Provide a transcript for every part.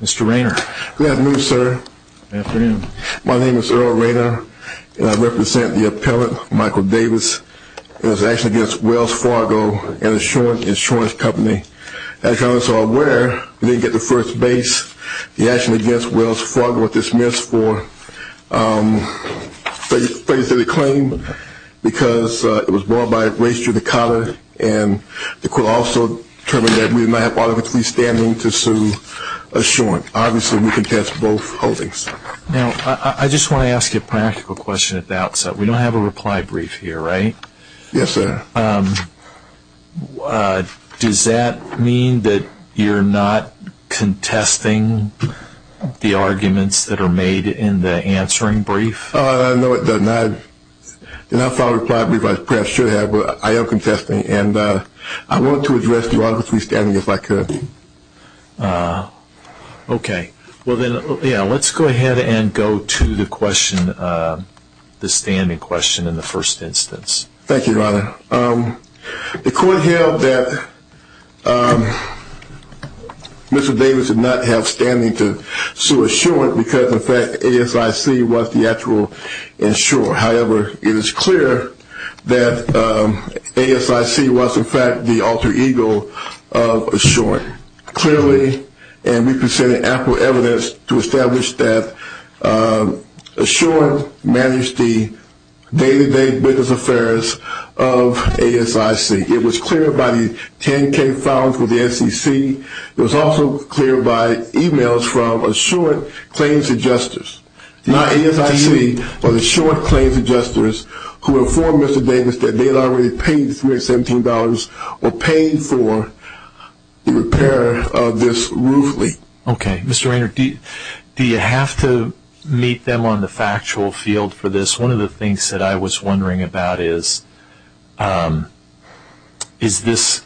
Mr. Raynor. Good afternoon sir. Good afternoon. My name is Earl Raynor and I represent the appellate Michael Davis in his action against Wells Fargo, an insurance company. As you all are aware, we didn't get the first base. The action against Wells Fargo was dismissed for failure to do the claim because it was brought by race to the collar and the court also determined that we did not have authority standing to sue Assurance. Obviously, we contest both holdings. Now, I just want to ask you a practical question at the outset. We don't have a reply brief here, right? Yes, sir. Does that mean that you're not contesting the arguments that are made in the answering brief? No, it does not. And I filed a reply brief, I should have, but I am contesting and I want to address the authority standing if I could. Okay. Well then, let's go ahead and go to the question, the standing question in the first instance. Thank you, your honor. The court held that Mr. Davis did not have standing to sue Assurance because in fact ASIC was the actual insurer. However, it is clear that ASIC was in fact the alter ego of Assurance. Clearly, and we presented ample evidence to establish that Assurance managed the day-to-day business affairs of ASIC. It was clear by the 10K files with the SEC. It was also clear by emails from Assurance claims adjusters. Not ASIC, but Assurance claims adjusters who informed Mr. Davis that they had already paid $317 or paid for the repair of this roof leak. Okay. Mr. Raynor, do you have to meet them on the factual field for this? One of the things that I was wondering about is, is this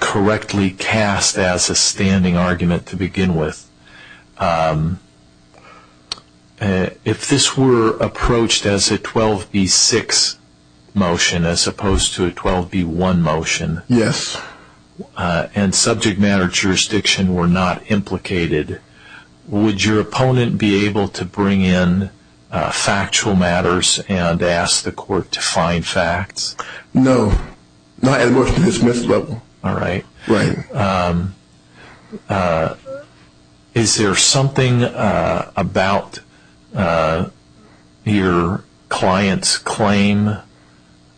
correctly cast as a standing argument to begin with? If this were approached as a 12B6 motion as opposed to a 12B1 motion and subject matter jurisdiction were not implicated, would your opponent be able to bring in factual matters and ask the court to find facts? No. Not at a motion to dismiss level. Alright. Is there something about your client's claim?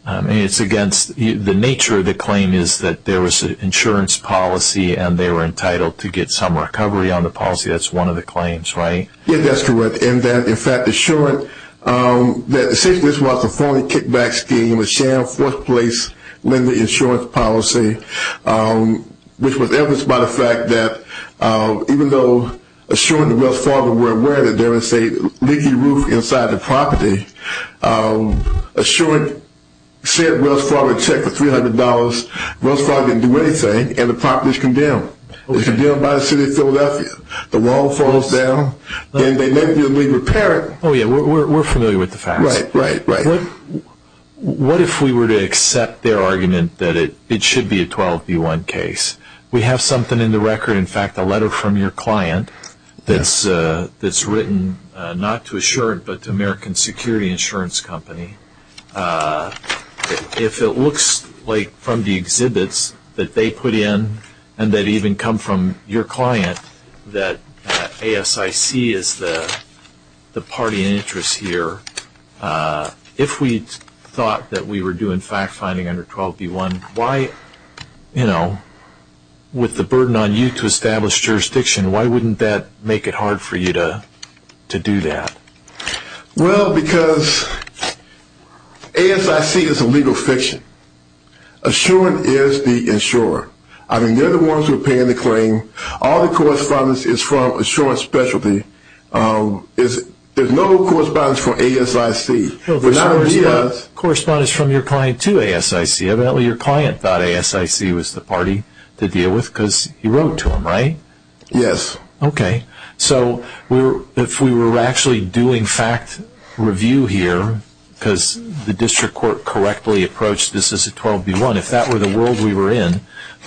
The nature of the claim is that there was an insurance policy and they were entitled to get some recovery on the policy. That's one of the claims, right? Yes, that's correct. And that in fact, Assurance, since this was a phony kickback scheme, a sham fourth place lending insurance policy, which was evidenced by the fact that even though Assurance and Wells Fargo were aware that there was a leaky roof inside the property, Assurance sent Wells Fargo to check for $300. Wells Fargo didn't do anything and the property was condemned. It was condemned by the city of Philadelphia. The wall falls down and they make you repair it. Oh yeah, we're familiar with the facts. Right, right, right. What if we were to accept their argument that it should be a 12B1 case? We have something in the record, in fact, a letter from your client that's written not to Assurance but to American Security Insurance Company. If it looks like from the exhibits that they put in and that even come from your client that ASIC is the party in interest here, if we thought that we were doing fact finding under 12B1, why, you know, with the burden on you to establish jurisdiction, why wouldn't that make it hard for you to do that? Well, because ASIC is a legal fiction. Assurance is the insurer. I mean, they're the ones who are paying the claim. All the correspondence is from Assurance specialty. There's no correspondence from ASIC. There's no correspondence from your client to ASIC. Evidently your client thought ASIC was the party to deal with because you wrote to them, right? Yes. Okay. So if we were actually doing fact review here because the district court correctly approached this as a 12B1, if that were the world we were in,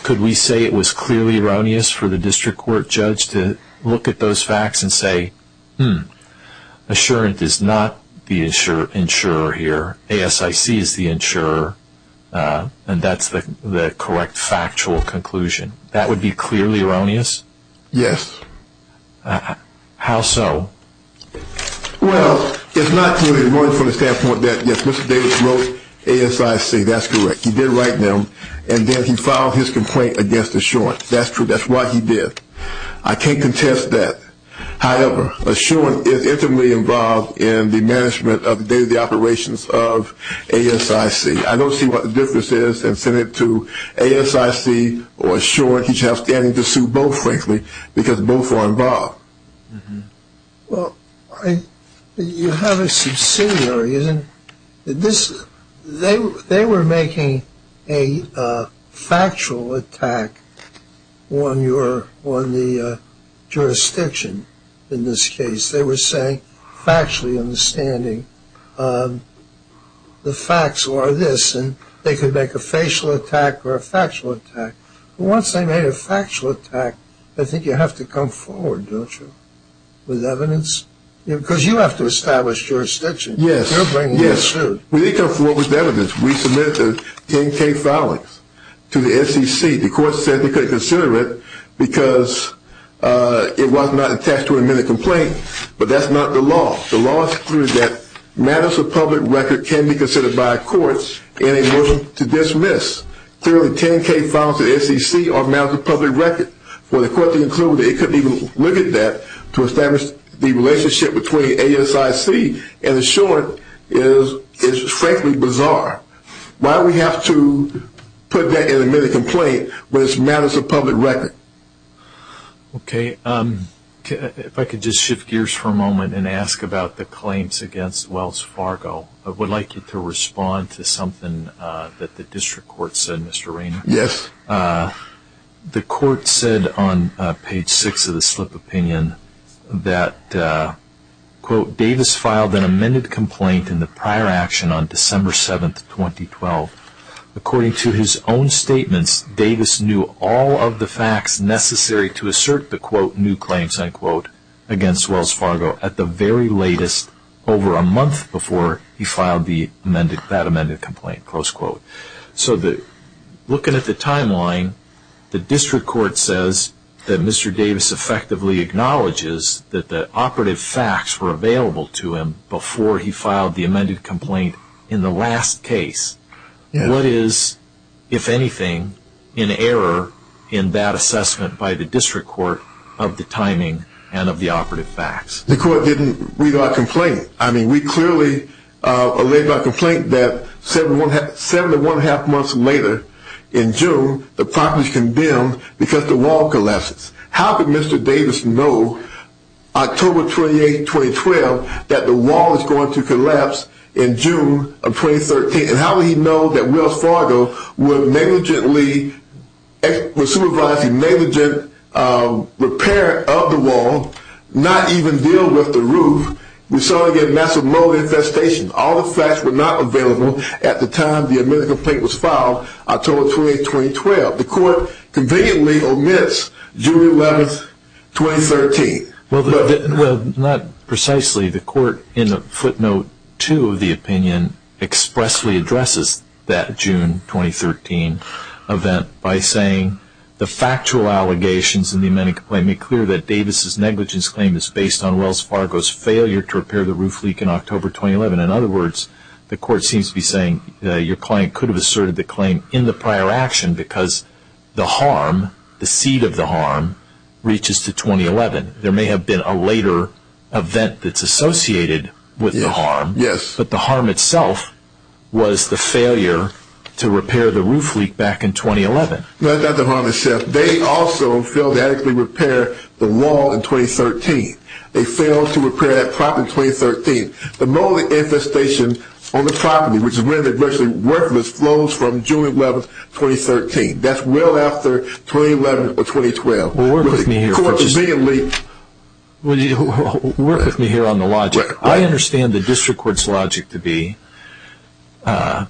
could we say it was clearly erroneous for the district court judge to look at those facts and say, hmm, Assurance is not the insurer here, ASIC is the insurer, and that's the correct factual conclusion. That would be clearly erroneous? Yes. How so? Well, it's not clearly erroneous from the standpoint that, yes, Mr. Davis wrote ASIC, that's correct. He did write them, and then he filed his complaint against Assurance. That's true. That's what he did. I can't contest that. However, Assurance is intimately involved in the management of the day-to-day operations of ASIC. I don't see what the difference is in sending it to ASIC or Assurance. He's outstanding to sue both, frankly, because both are involved. Well, you have a subsidiary, isn't it? They were making a factual attack on the jurisdiction in this case. They were saying factually understanding the facts were this, and they could make a facial attack or a factual attack. Once they made a factual attack, I think you have to come forward, don't you, with evidence? Because you have to establish jurisdiction. Yes. You're bringing this to. Yes. We need to come forward with evidence. We submitted the 10K filings to the SEC. The court said they couldn't consider it because it was not attached to an amended complaint, but that's not the law. The law is clear that matters of public record can be considered by a court in a motion to dismiss. Clearly, 10K files to the SEC are matters of public record. For the court to conclude that it couldn't even look at that to establish the relationship between ASIC and Assurance is, frankly, bizarre. Why do we have to put that in an amended complaint when it's matters of public record? Okay. If I could just shift gears for a moment and ask about the claims against Wells Fargo. I would like you to respond to something that the district court said, Mr. Raynor. Yes. The court said on page 6 of the slip of opinion that, quote, Davis filed an amended complaint in the prior action on December 7th, 2012. According to his own statements, Davis knew all of the facts necessary to assert the, quote, new claims, unquote, against Wells Fargo at the very latest over a month before he filed that amended complaint, close quote. So looking at the timeline, the district court says that Mr. Davis effectively acknowledges that the operative facts were available to him before he filed the amended complaint in the last case. What is, if anything, an error in that assessment by the district court of the timing and of the operative facts? The court didn't read our complaint. I mean, we clearly, uh, laid out a complaint that 7 to 1 1⁄2 months later in June, the property was condemned because the wall collapses. How could Mr. Davis know October 28th, 2012, that the wall is going to collapse in June of 2013? And how would he know that Wells Fargo would negligently, would supervise a repair of the wall, not even deal with the roof, we saw again massive mold infestations. All the facts were not available at the time the amended complaint was filed, October 28th, 2012. The court conveniently omits June 11th, 2013. Well, not precisely. The court in footnote two of the opinion expressly addresses that June 2013 event by saying the factual allegations in the amended complaint make clear that Davis's negligence claim is based on Wells Fargo's failure to repair the roof leak in October 2011. In other words, the court seems to be saying that your client could have asserted the claim in the prior action because the harm, the seed of the harm, reaches to 2011. There may have been a later event that's associated with the harm, but the harm itself was the failure to repair the roof leak back in 2011. No, that's not the harm itself. They also failed to adequately repair the wall in 2013. They failed to repair that property in 2013. The mold infestation on the property, which is rendered virtually worthless, flows from June 11th, 2013. That's well after 2011 or Well, work with me here, Purchase. Court conveniently... Work with me here on the logic. I understand the district court's logic to be the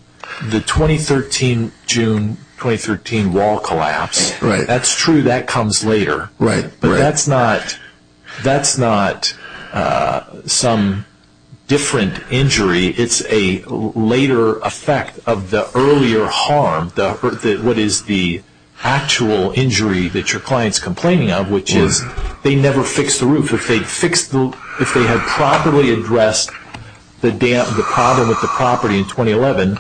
2013 June 2013 wall collapse. That's true. That comes later. But that's not some different injury. It's a later effect of the earlier harm, what is the actual injury that your client's complaining of, which is they never fixed the roof. If they had properly addressed the problem with the property in 2011,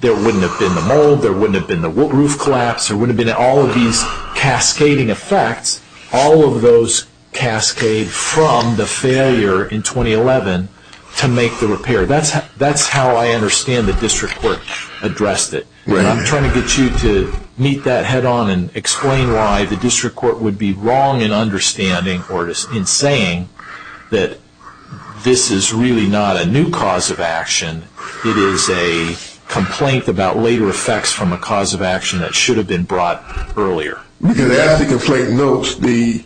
there wouldn't have been the mold, there wouldn't have been the roof collapse, there wouldn't have been all of these cascading effects. All of those cascade from the failure in 2011 to make the repair. That's how I understand the district court addressed it. I'm trying to get you to meet that head on and explain why the district court would be wrong in understanding or in saying that this is really not a new cause of action. It is a complaint about later effects from a cause of action that should have been brought earlier. Because as the complaint notes, the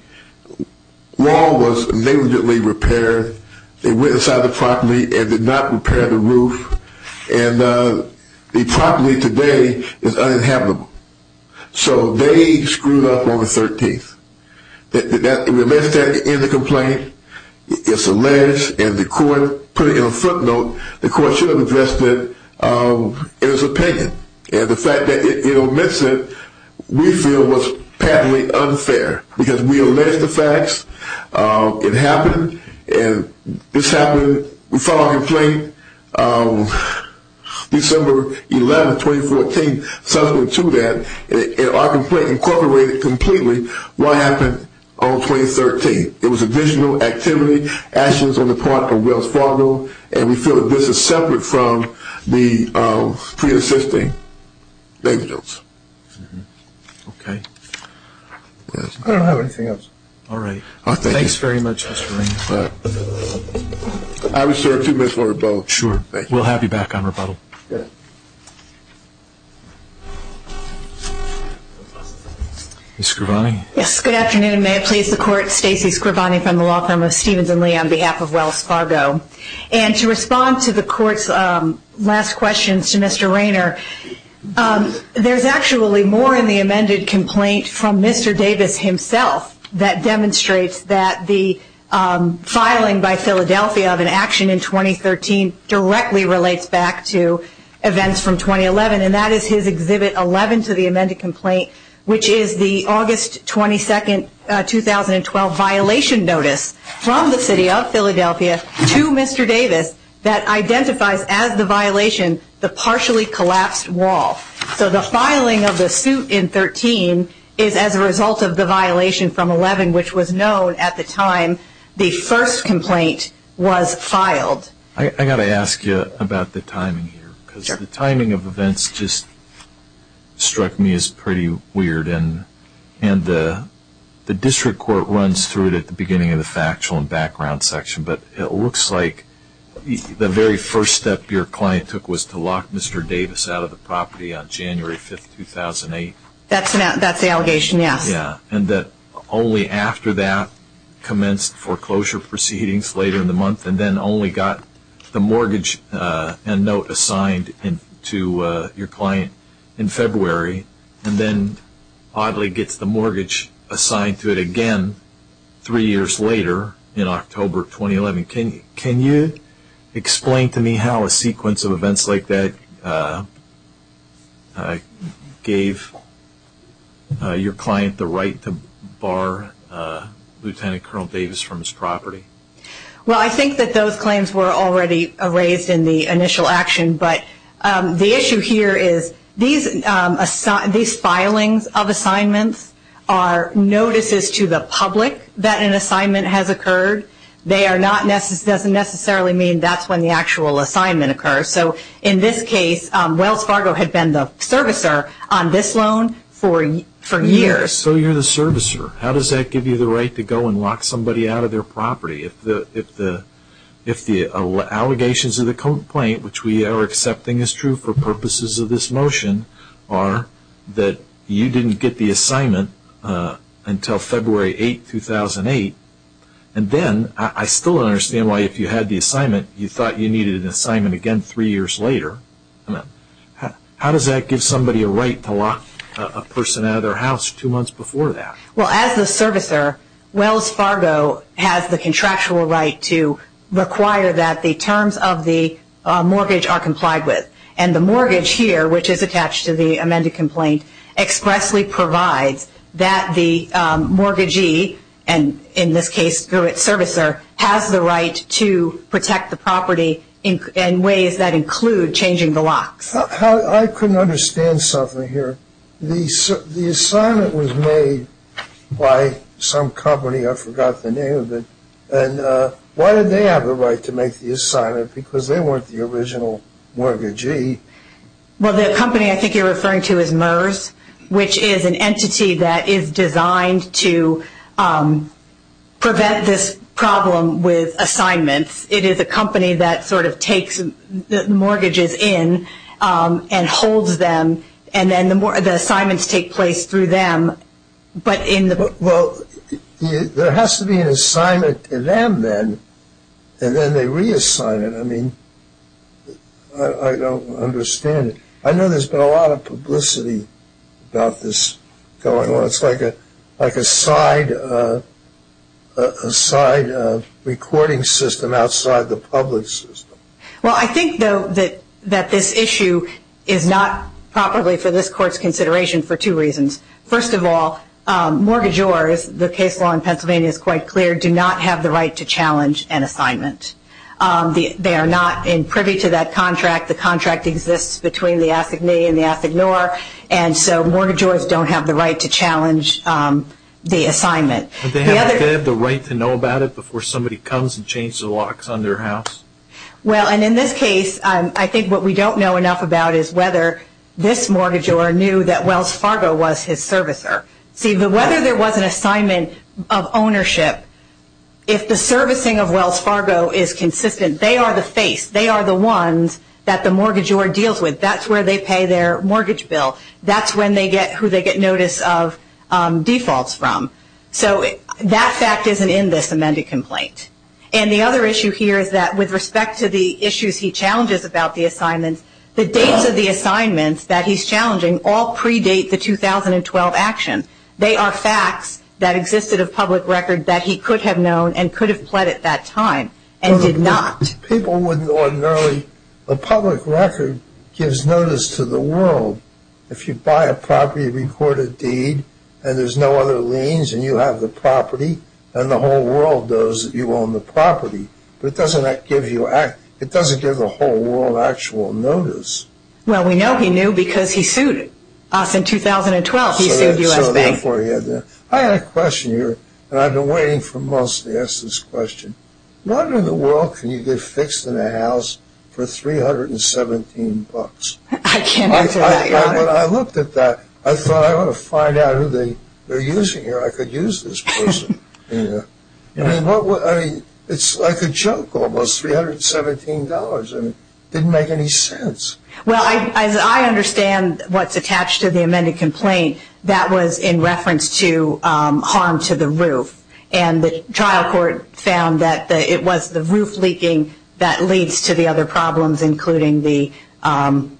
wall was negligently repaired. They went inside the property and did not repair the roof. And the property today is uninhabitable. So they screwed up on the 13th. We missed that in the complaint. It's alleged and the court put it in a footnote. The court should have addressed it in its opinion. And the fact that it omits it, we feel was patently unfair because we allege the facts. It happened and this happened. We filed a complaint December 11, 2014, subsequent to that. And our complaint incorporated completely what happened on 2013. It was additional activity, actions on the part of Wells Fargo. And we feel that this is separate from the pre-existing evidence. Okay. I don't have anything else. All right. Thanks very much, Mr. Raines. I reserve two minutes for rebuttal. Sure. We'll have you back on rebuttal. Ms. Scrivani? Yes. Good afternoon. May I please the court? Stacey Scrivani from the law firm of Stevens and Lee on behalf of Wells Fargo. And to respond to the court's last questions to Mr. Rainer, there's actually more in the amended complaint from Mr. Davis himself that demonstrates that the filing by Philadelphia of an action in 2013 directly relates back to events from 2011, which is the August 22, 2012, violation notice from the city of Philadelphia to Mr. Davis that identifies as the violation the partially collapsed wall. So the filing of the suit in 13 is as a result of the violation from 11, which was known at the time the first complaint was filed. I've got to ask you about the timing here. Sure. The timing of events just struck me as pretty weird. And the district court runs through it at the beginning of the factual and background section. But it looks like the very first step your client took was to lock Mr. Davis out of the property on January 5, 2008. That's the allegation, yes. Yeah. And that only after that commenced foreclosure proceedings later in the month and then only got the mortgage and note assigned to your client in February and then oddly gets the mortgage assigned to it again three years later in October 2011. Can you explain to me how a sequence of events like that gave your client the right to bar Lieutenant Colonel Davis from his property? Well, I think that those claims were already raised in the initial action. But the issue here is these filings of assignments are notices to the public that an assignment has occurred. They are not necessarily, doesn't necessarily mean that's when the actual assignment occurs. So in this case, Wells Fargo had been the servicer on this loan for years. So you're the servicer. How does that give you the right to go and lock somebody out of their property if the allegations of the complaint, which we are accepting is true for purposes of this motion, are that you didn't get the assignment until February 8, 2008 and then I still don't understand why if you had the assignment you thought you needed an assignment again three years later. How does that give somebody a right to lock a person out of their house two months before that? Well, as the servicer, Wells Fargo has the contractual right to require that the terms of the mortgage are complied with. And the mortgage here, which is attached to the amended complaint, expressly provides that the mortgagee, and in this case the servicer, has the right to protect the property in ways that include changing the locks. I couldn't understand something here. The assignment was made by some company, I forgot the name of it, and why did they have the right to make the assignment because they weren't the original mortgagee? Well, the company I think you're referring to is MERS, which is an entity that is designed to prevent this problem with assignments. It is a company that sort of locks the mortgages in and holds them and then the assignments take place through them. Well, there has to be an assignment to them then and then they reassign it. I mean, I don't understand it. I know there's been a lot of publicity about this going on. It's like a side recording system outside the public system. Well, I think, though, that this issue is not properly for this Court's consideration for two reasons. First of all, mortgagors, the case law in Pennsylvania is quite clear, do not have the right to challenge an assignment. They are not privy to that contract. The contract exists between the ASIC-ME and the ASIC-NOR, and so mortgagors don't have the right to challenge the assignment. Do they have the right to know about it before somebody comes and changes the mortgage in their house? Well, and in this case, I think what we don't know enough about is whether this mortgagor knew that Wells Fargo was his servicer. See, whether there was an assignment of ownership, if the servicing of Wells Fargo is consistent, they are the face. They are the ones that the mortgagor deals with. That's where they pay their mortgage bill. That's who they get notice of defaults from. So that fact isn't in this amended complaint. And the other issue here is that with respect to the issues he challenges about the assignments, the dates of the assignments that he's challenging all predate the 2012 action. They are facts that existed of public record that he could have known and could have pled at that time and did not. People wouldn't ordinarily, a public record gives notice to the world. If you buy a property, you record a deed, and there's no other liens, and you have the property, and the whole world knows that you own the property. But it doesn't give the whole world actual notice. Well, we know he knew because he sued us in 2012. He sued U.S. Bank. I had a question here, and I've been waiting for months to ask this question. How in the world can you get fixed in a house for 317 bucks? I can't answer that, Your Honor. When I looked at that, I thought, I want to find out who they're using here. I could use this person. I mean, it's like a joke, almost $317. It didn't make any sense. Well, as I understand what's attached to the amended complaint, that was in reference to harm to the roof. And the trial court found that it was the roof leaking that leads to the other problems, including the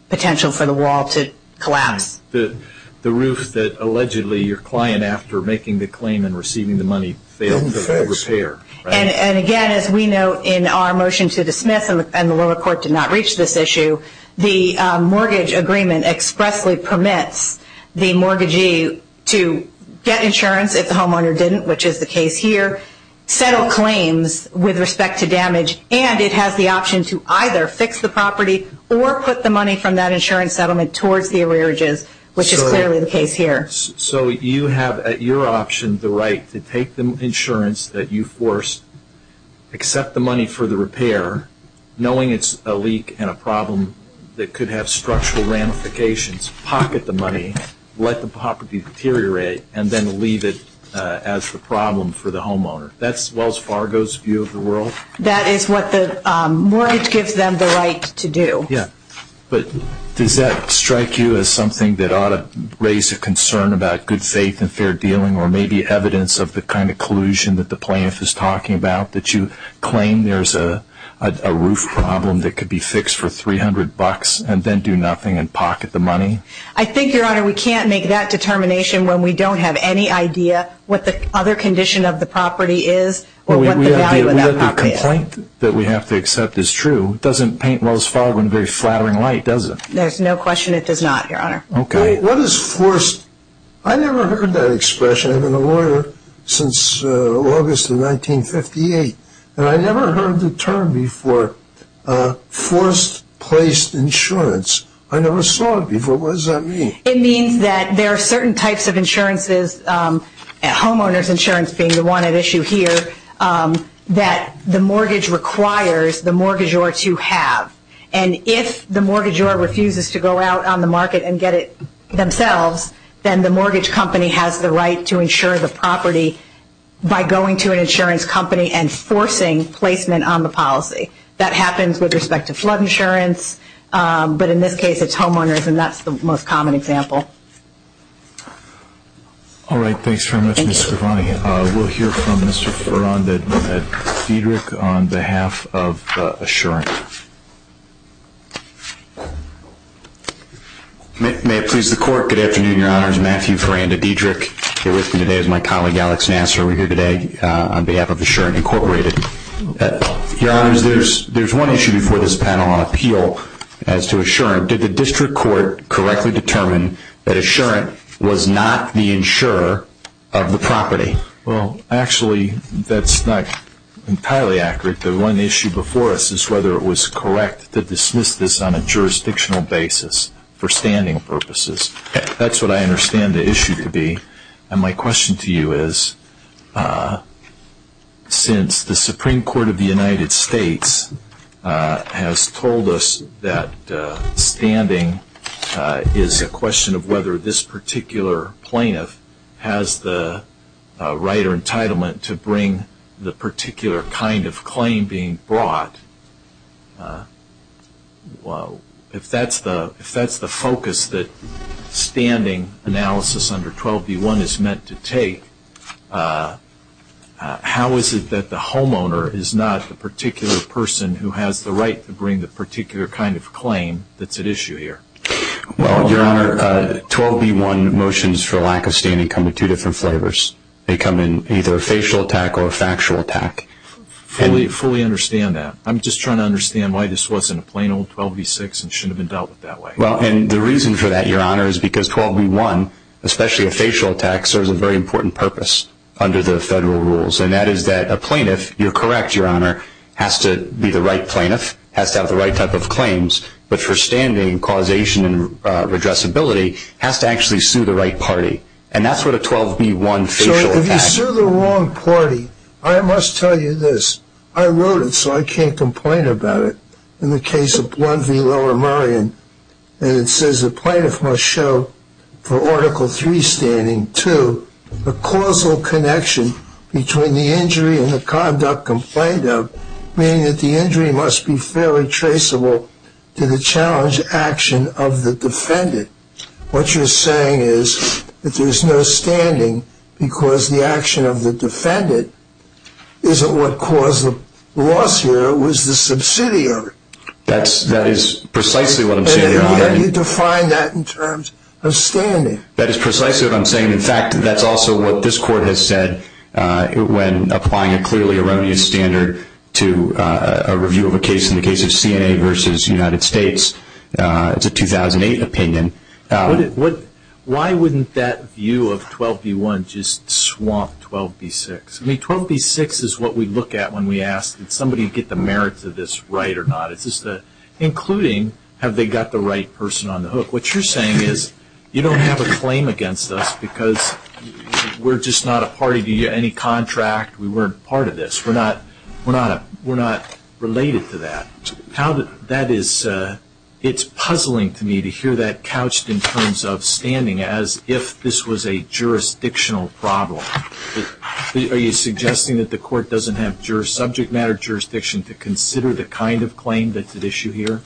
potential for the wall to collapse. The roof that allegedly your client, after making the claim and receiving the money, failed to repair. And again, as we know in our motion to dismiss, and the lower court did not reach this issue, the mortgage agreement expressly permits the mortgagee to get insurance if the homeowner didn't, which is the case here, settle claims with respect to damage. And it has the option to either fix the property or put the money from that insurance settlement towards the arrearages, which is clearly the case here. So you have at your option the right to take the insurance that you forced, accept the money for the repair, knowing it's a leak and a problem that could have structural ramifications, pocket the money, let the property deteriorate, and then leave it as the problem for the homeowner. That's Wells Fargo's view of the world? That is what the mortgage gives them the right to do. Yeah. But does that strike you as something that ought to raise a concern about good faith and fair dealing or maybe evidence of the kind of collusion that the plaintiff is talking about, that you claim there's a roof problem that could be fixed for $300 and then do nothing and pocket the money? I think, Your Honor, we can't make that determination when we don't have any idea what the other condition of the property is or what the value of that property is. The complaint that we have to accept is true. It doesn't paint Wells Fargo in a very flattering light, does it? There's no question it does not, Your Honor. Okay. What is forced? I never heard that expression. I've been a lawyer since August of 1958, and I never heard the term before forced placed insurance. I never saw it before. What does that mean? It means that there are certain types of insurances, homeowner's insurance being the one at issue here, that the mortgage requires the mortgagor to have. And if the mortgagor refuses to go out on the market and get it themselves, then the mortgage company has the right to insure the property by going to an insurance company and forcing placement on the policy. That happens with respect to flood insurance. But in this case, it's homeowner's, and that's the most common example. All right. Thanks very much, Ms. Scrivani. Thank you. We'll hear from Mr. Miranda-Dedrick on behalf of Assurant. May it please the Court. Good afternoon, Your Honors. Matthew Miranda-Dedrick here with me today is my colleague, Alex Nasser. We're here today on behalf of Assurant Incorporated. Your Honors, there's one issue before this panel on appeal as to Assurant. Did the district court correctly determine that Assurant was not the insurer of the property? Well, actually, that's not entirely accurate. The one issue before us is whether it was correct to dismiss this on a jurisdictional basis for standing purposes. That's what I understand the issue to be. And my question to you is, since the Supreme Court of the United States has told us that standing is a question of whether this particular plaintiff has the right or entitlement to bring the particular kind of claim being brought, if that's the focus that standing analysis under 12b-1 is meant to take, how is it that the homeowner is not the particular person who has the right to bring the particular kind of claim that's at issue here? Well, Your Honor, 12b-1 motions for lack of standing come in two different flavors. They come in either a facial attack or a factual attack. I fully understand that. I'm just trying to understand why this wasn't a plain old 12b-6 and shouldn't have been dealt with that way. Well, and the reason for that, Your Honor, is because 12b-1, especially a facial attack, serves a very important purpose under the federal rules, and that is that a plaintiff, you're correct, Your Honor, has to be the right plaintiff, has to have the right type of claims, but for standing, causation, and redressability, has to actually sue the right party. And that's what a 12b-1 facial attack is. If you sue the wrong party, I must tell you this. I wrote it so I can't complain about it. In the case of 1 v. Lower Merion, it says the plaintiff must show, for Article III standing, two, a causal connection between the injury and the conduct complained of, meaning that the injury must be fairly traceable to the challenge action of the defendant. What you're saying is that there's no standing because the action of the defendant isn't what caused the loss here. It was the subsidiary. That is precisely what I'm saying. And how do you define that in terms of standing? That is precisely what I'm saying. In fact, that's also what this Court has said when applying a clearly erroneous standard to a review of a case in the case of CNA v. United States. It's a 2008 opinion. Why wouldn't that view of 12b-1 just swamp 12b-6? I mean, 12b-6 is what we look at when we ask, did somebody get the merits of this right or not? Including, have they got the right person on the hook? What you're saying is you don't have a claim against us because we're just not a party to any contract. We weren't part of this. We're not related to that. That is, it's puzzling to me to hear that couched in terms of standing as if this was a jurisdictional problem. Are you suggesting that the Court doesn't have subject matter jurisdiction to consider the kind of claim that's at issue here?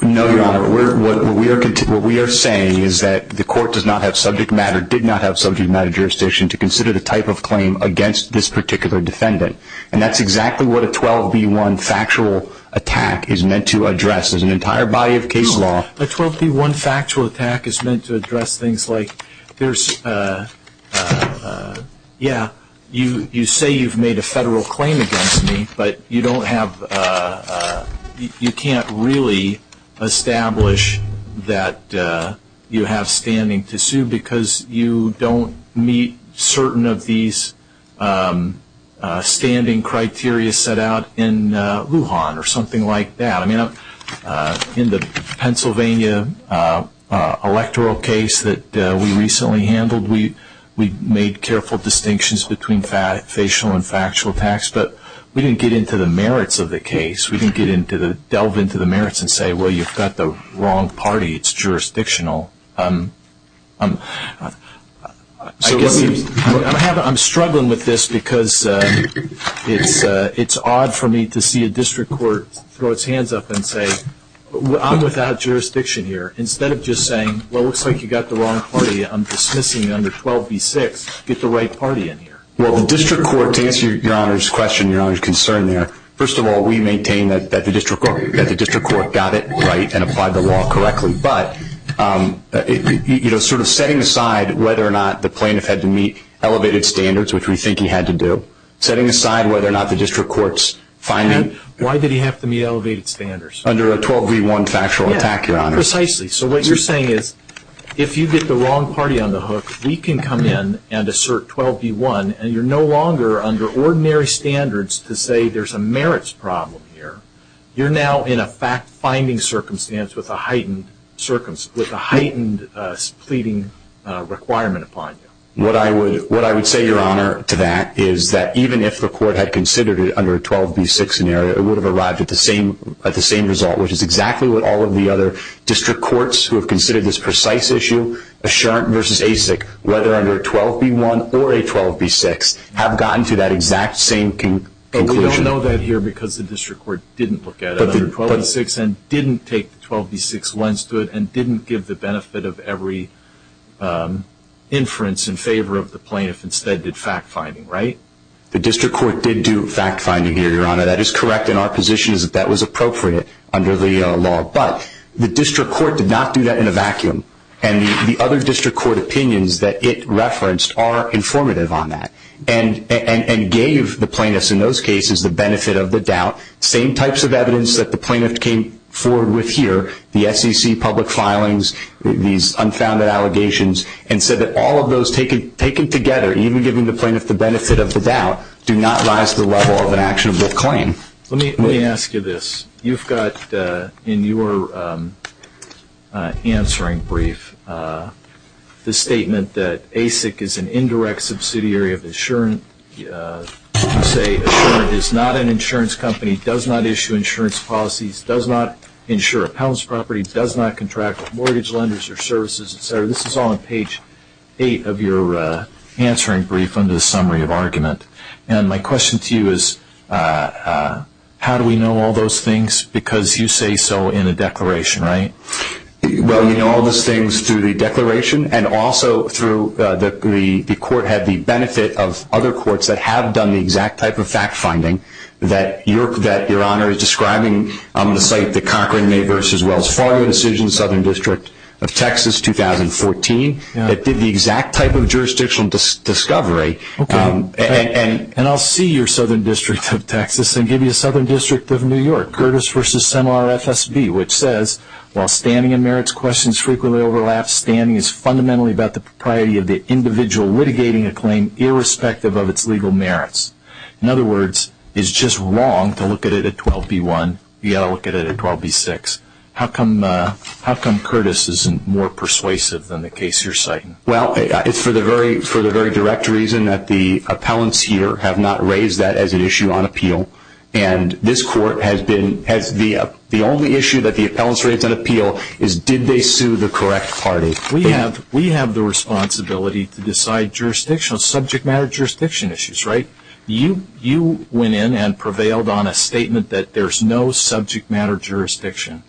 No, Your Honor. What we are saying is that the Court does not have subject matter, did not have subject matter jurisdiction to consider the type of claim against this particular defendant. And that's exactly what a 12b-1 factual attack is meant to address. There's an entire body of case law. A 12b-1 factual attack is meant to address things like there's, yeah, you say you've made a federal claim against me, but you don't have, you can't really establish that you have standing to sue because you don't meet certain of these standing criteria set out in Lujan or something like that. In the Pennsylvania electoral case that we recently handled, we made careful distinctions between facial and factual attacks, but we didn't get into the merits of the case. We didn't delve into the merits and say, well, you've got the wrong party. It's jurisdictional. I'm struggling with this because it's odd for me to see a district court throw its hands up and say, I'm without jurisdiction here, instead of just saying, well, it looks like you've got the wrong party. I'm dismissing under 12b-6. Get the right party in here. Well, the district court, to answer Your Honor's question, Your Honor's concern there, first of all, we maintain that the district court got it right and applied the law correctly, but sort of setting aside whether or not the plaintiff had to meet elevated standards, which we think he had to do, setting aside whether or not the district court's finding. Why did he have to meet elevated standards? Under a 12b-1 factual attack, Your Honor. Precisely. So what you're saying is if you get the wrong party on the hook, we can come in and assert 12b-1, and you're no longer under ordinary standards to say there's a merits problem here. You're now in a fact-finding circumstance with a heightened pleading requirement upon you. What I would say, Your Honor, to that is that even if the court had considered it under a 12b-6 scenario, it would have arrived at the same result, which is exactly what all of the other district courts who have considered this precise issue, Assurance v. ASIC, whether under a 12b-1 or a 12b-6, have gotten to that exact same conclusion. But we don't know that here because the district court didn't look at it under 12b-6 and didn't take the 12b-6 lens to it and didn't give the benefit of every inference in favor of the plaintiff, instead did fact-finding, right? The district court did do fact-finding here, Your Honor. That is correct, and our position is that that was appropriate under the law. But the district court did not do that in a vacuum, and the other district court opinions that it referenced are informative on that, and gave the plaintiffs in those cases the benefit of the doubt, same types of evidence that the plaintiff came forward with here, the SEC public filings, these unfounded allegations, and said that all of those taken together, even giving the plaintiff the benefit of the doubt, do not rise to the level of an actionable claim. Let me ask you this. You've got in your answering brief the statement that ASIC is an indirect subsidiary of Assurant. You say Assurant is not an insurance company, does not issue insurance policies, does not insure a palace property, does not contract with mortgage lenders or services, et cetera. This is all on page 8 of your answering brief under the summary of argument. And my question to you is, how do we know all those things? Because you say so in a declaration, right? Well, you know all those things through the declaration, and also through the court had the benefit of other courts that have done the exact type of fact-finding that your Honor is describing on the site that Cochran made versus Wells Fargo incision, Southern District of Texas, 2014, that did the exact type of jurisdictional discovery. Okay. And I'll see your Southern District of Texas and give you a Southern District of New York, Curtis versus Semar FSB, which says, while standing and merits questions frequently overlap, standing is fundamentally about the propriety of the individual litigating a claim irrespective of its legal merits. In other words, it's just wrong to look at it at 12B1. You've got to look at it at 12B6. How come Curtis isn't more persuasive than the case you're citing? Well, it's for the very direct reason that the appellants here have not raised that as an issue on appeal. And this Court has been, the only issue that the appellants raised on appeal is did they sue the correct party. We have the responsibility to decide jurisdictional, subject matter jurisdiction issues, right? You went in and prevailed on a statement that there's no subject matter jurisdiction.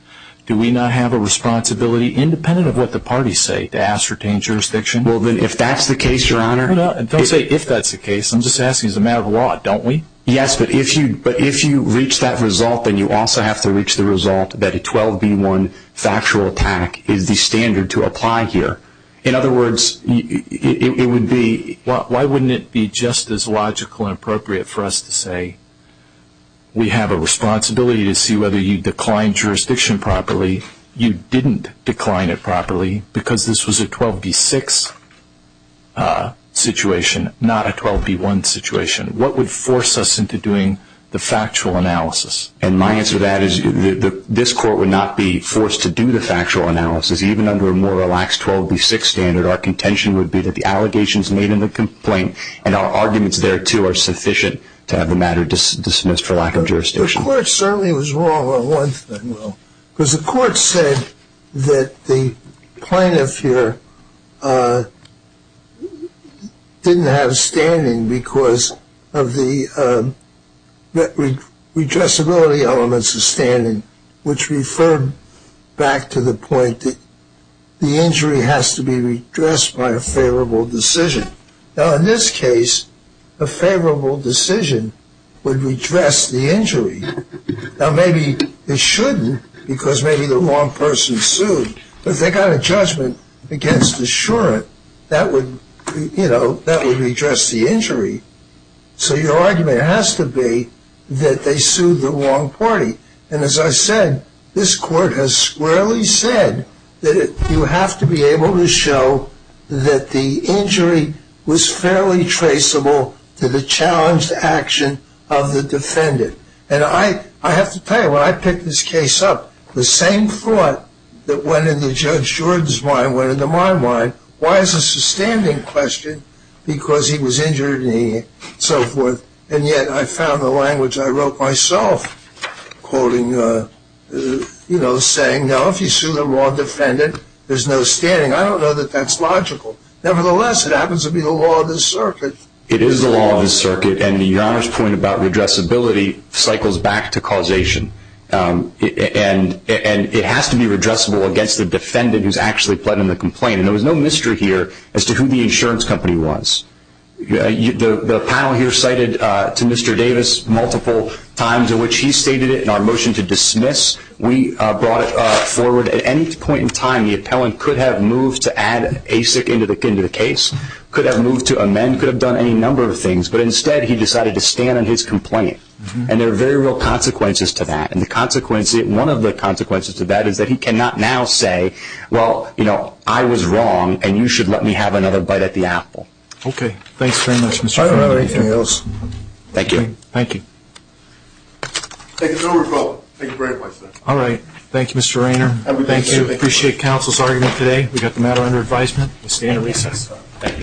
Do we not have a responsibility, independent of what the parties say, to ascertain jurisdiction? Well, then if that's the case, Your Honor. Don't say if that's the case. I'm just asking as a matter of law, don't we? Yes, but if you reach that result, then you also have to reach the result that a 12B1 factual attack is the standard to apply here. In other words, it would be, why wouldn't it be just as logical and appropriate for us to say we have a responsibility to see whether you declined jurisdiction properly, you didn't decline it properly, because this was a 12B6 situation, not a 12B1 situation? What would force us into doing the factual analysis? And my answer to that is this Court would not be forced to do the factual analysis, even under a more relaxed 12B6 standard. Our contention would be that the allegations made in the complaint and our arguments thereto are sufficient to have the matter dismissed for lack of jurisdiction. The Court certainly was wrong on one thing, though. Because the Court said that the plaintiff here didn't have standing because of the redressability elements of standing, which referred back to the point that the injury has to be redressed by a favorable decision. Now, in this case, a favorable decision would redress the injury. Now, maybe it shouldn't, because maybe the wrong person sued. But if they got a judgment against assurant, that would, you know, that would redress the injury. So your argument has to be that they sued the wrong party. And as I said, this Court has squarely said that you have to be able to show that the injury was fairly traceable to the challenged action of the defendant. And I have to tell you, when I picked this case up, the same thought that went into Judge Jordan's mind went into my mind. Why is this a standing question? Because he was injured and so forth. And yet I found the language I wrote myself, quoting, you know, saying, no, if you sue the wrong defendant, there's no standing. I don't know that that's logical. Nevertheless, it happens to be the law of the circuit. It is the law of the circuit. And Your Honor's point about redressability cycles back to causation. And it has to be redressable against the defendant who's actually pleading the complaint. And there was no mystery here as to who the insurance company was. The panel here cited to Mr. Davis multiple times in which he stated it. In our motion to dismiss, we brought it forward. At any point in time, the appellant could have moved to add ASIC into the case, could have moved to amend, could have done any number of things. But instead, he decided to stand on his complaint. And there are very real consequences to that. And one of the consequences to that is that he cannot now say, well, you know, I was wrong, and you should let me have another bite at the apple. Okay. Thanks very much, Mr. Ferrandi. Is there anything else? Thank you. Thank you. Thank you very much, sir. All right. Thank you, Mr. Raynor. Thank you. Appreciate counsel's argument today. We've got the matter under advisement. We stand recess. Thank you. I, uh, thank you very much. Thank you. Appreciate it. Thank you. Thank you. Thank you.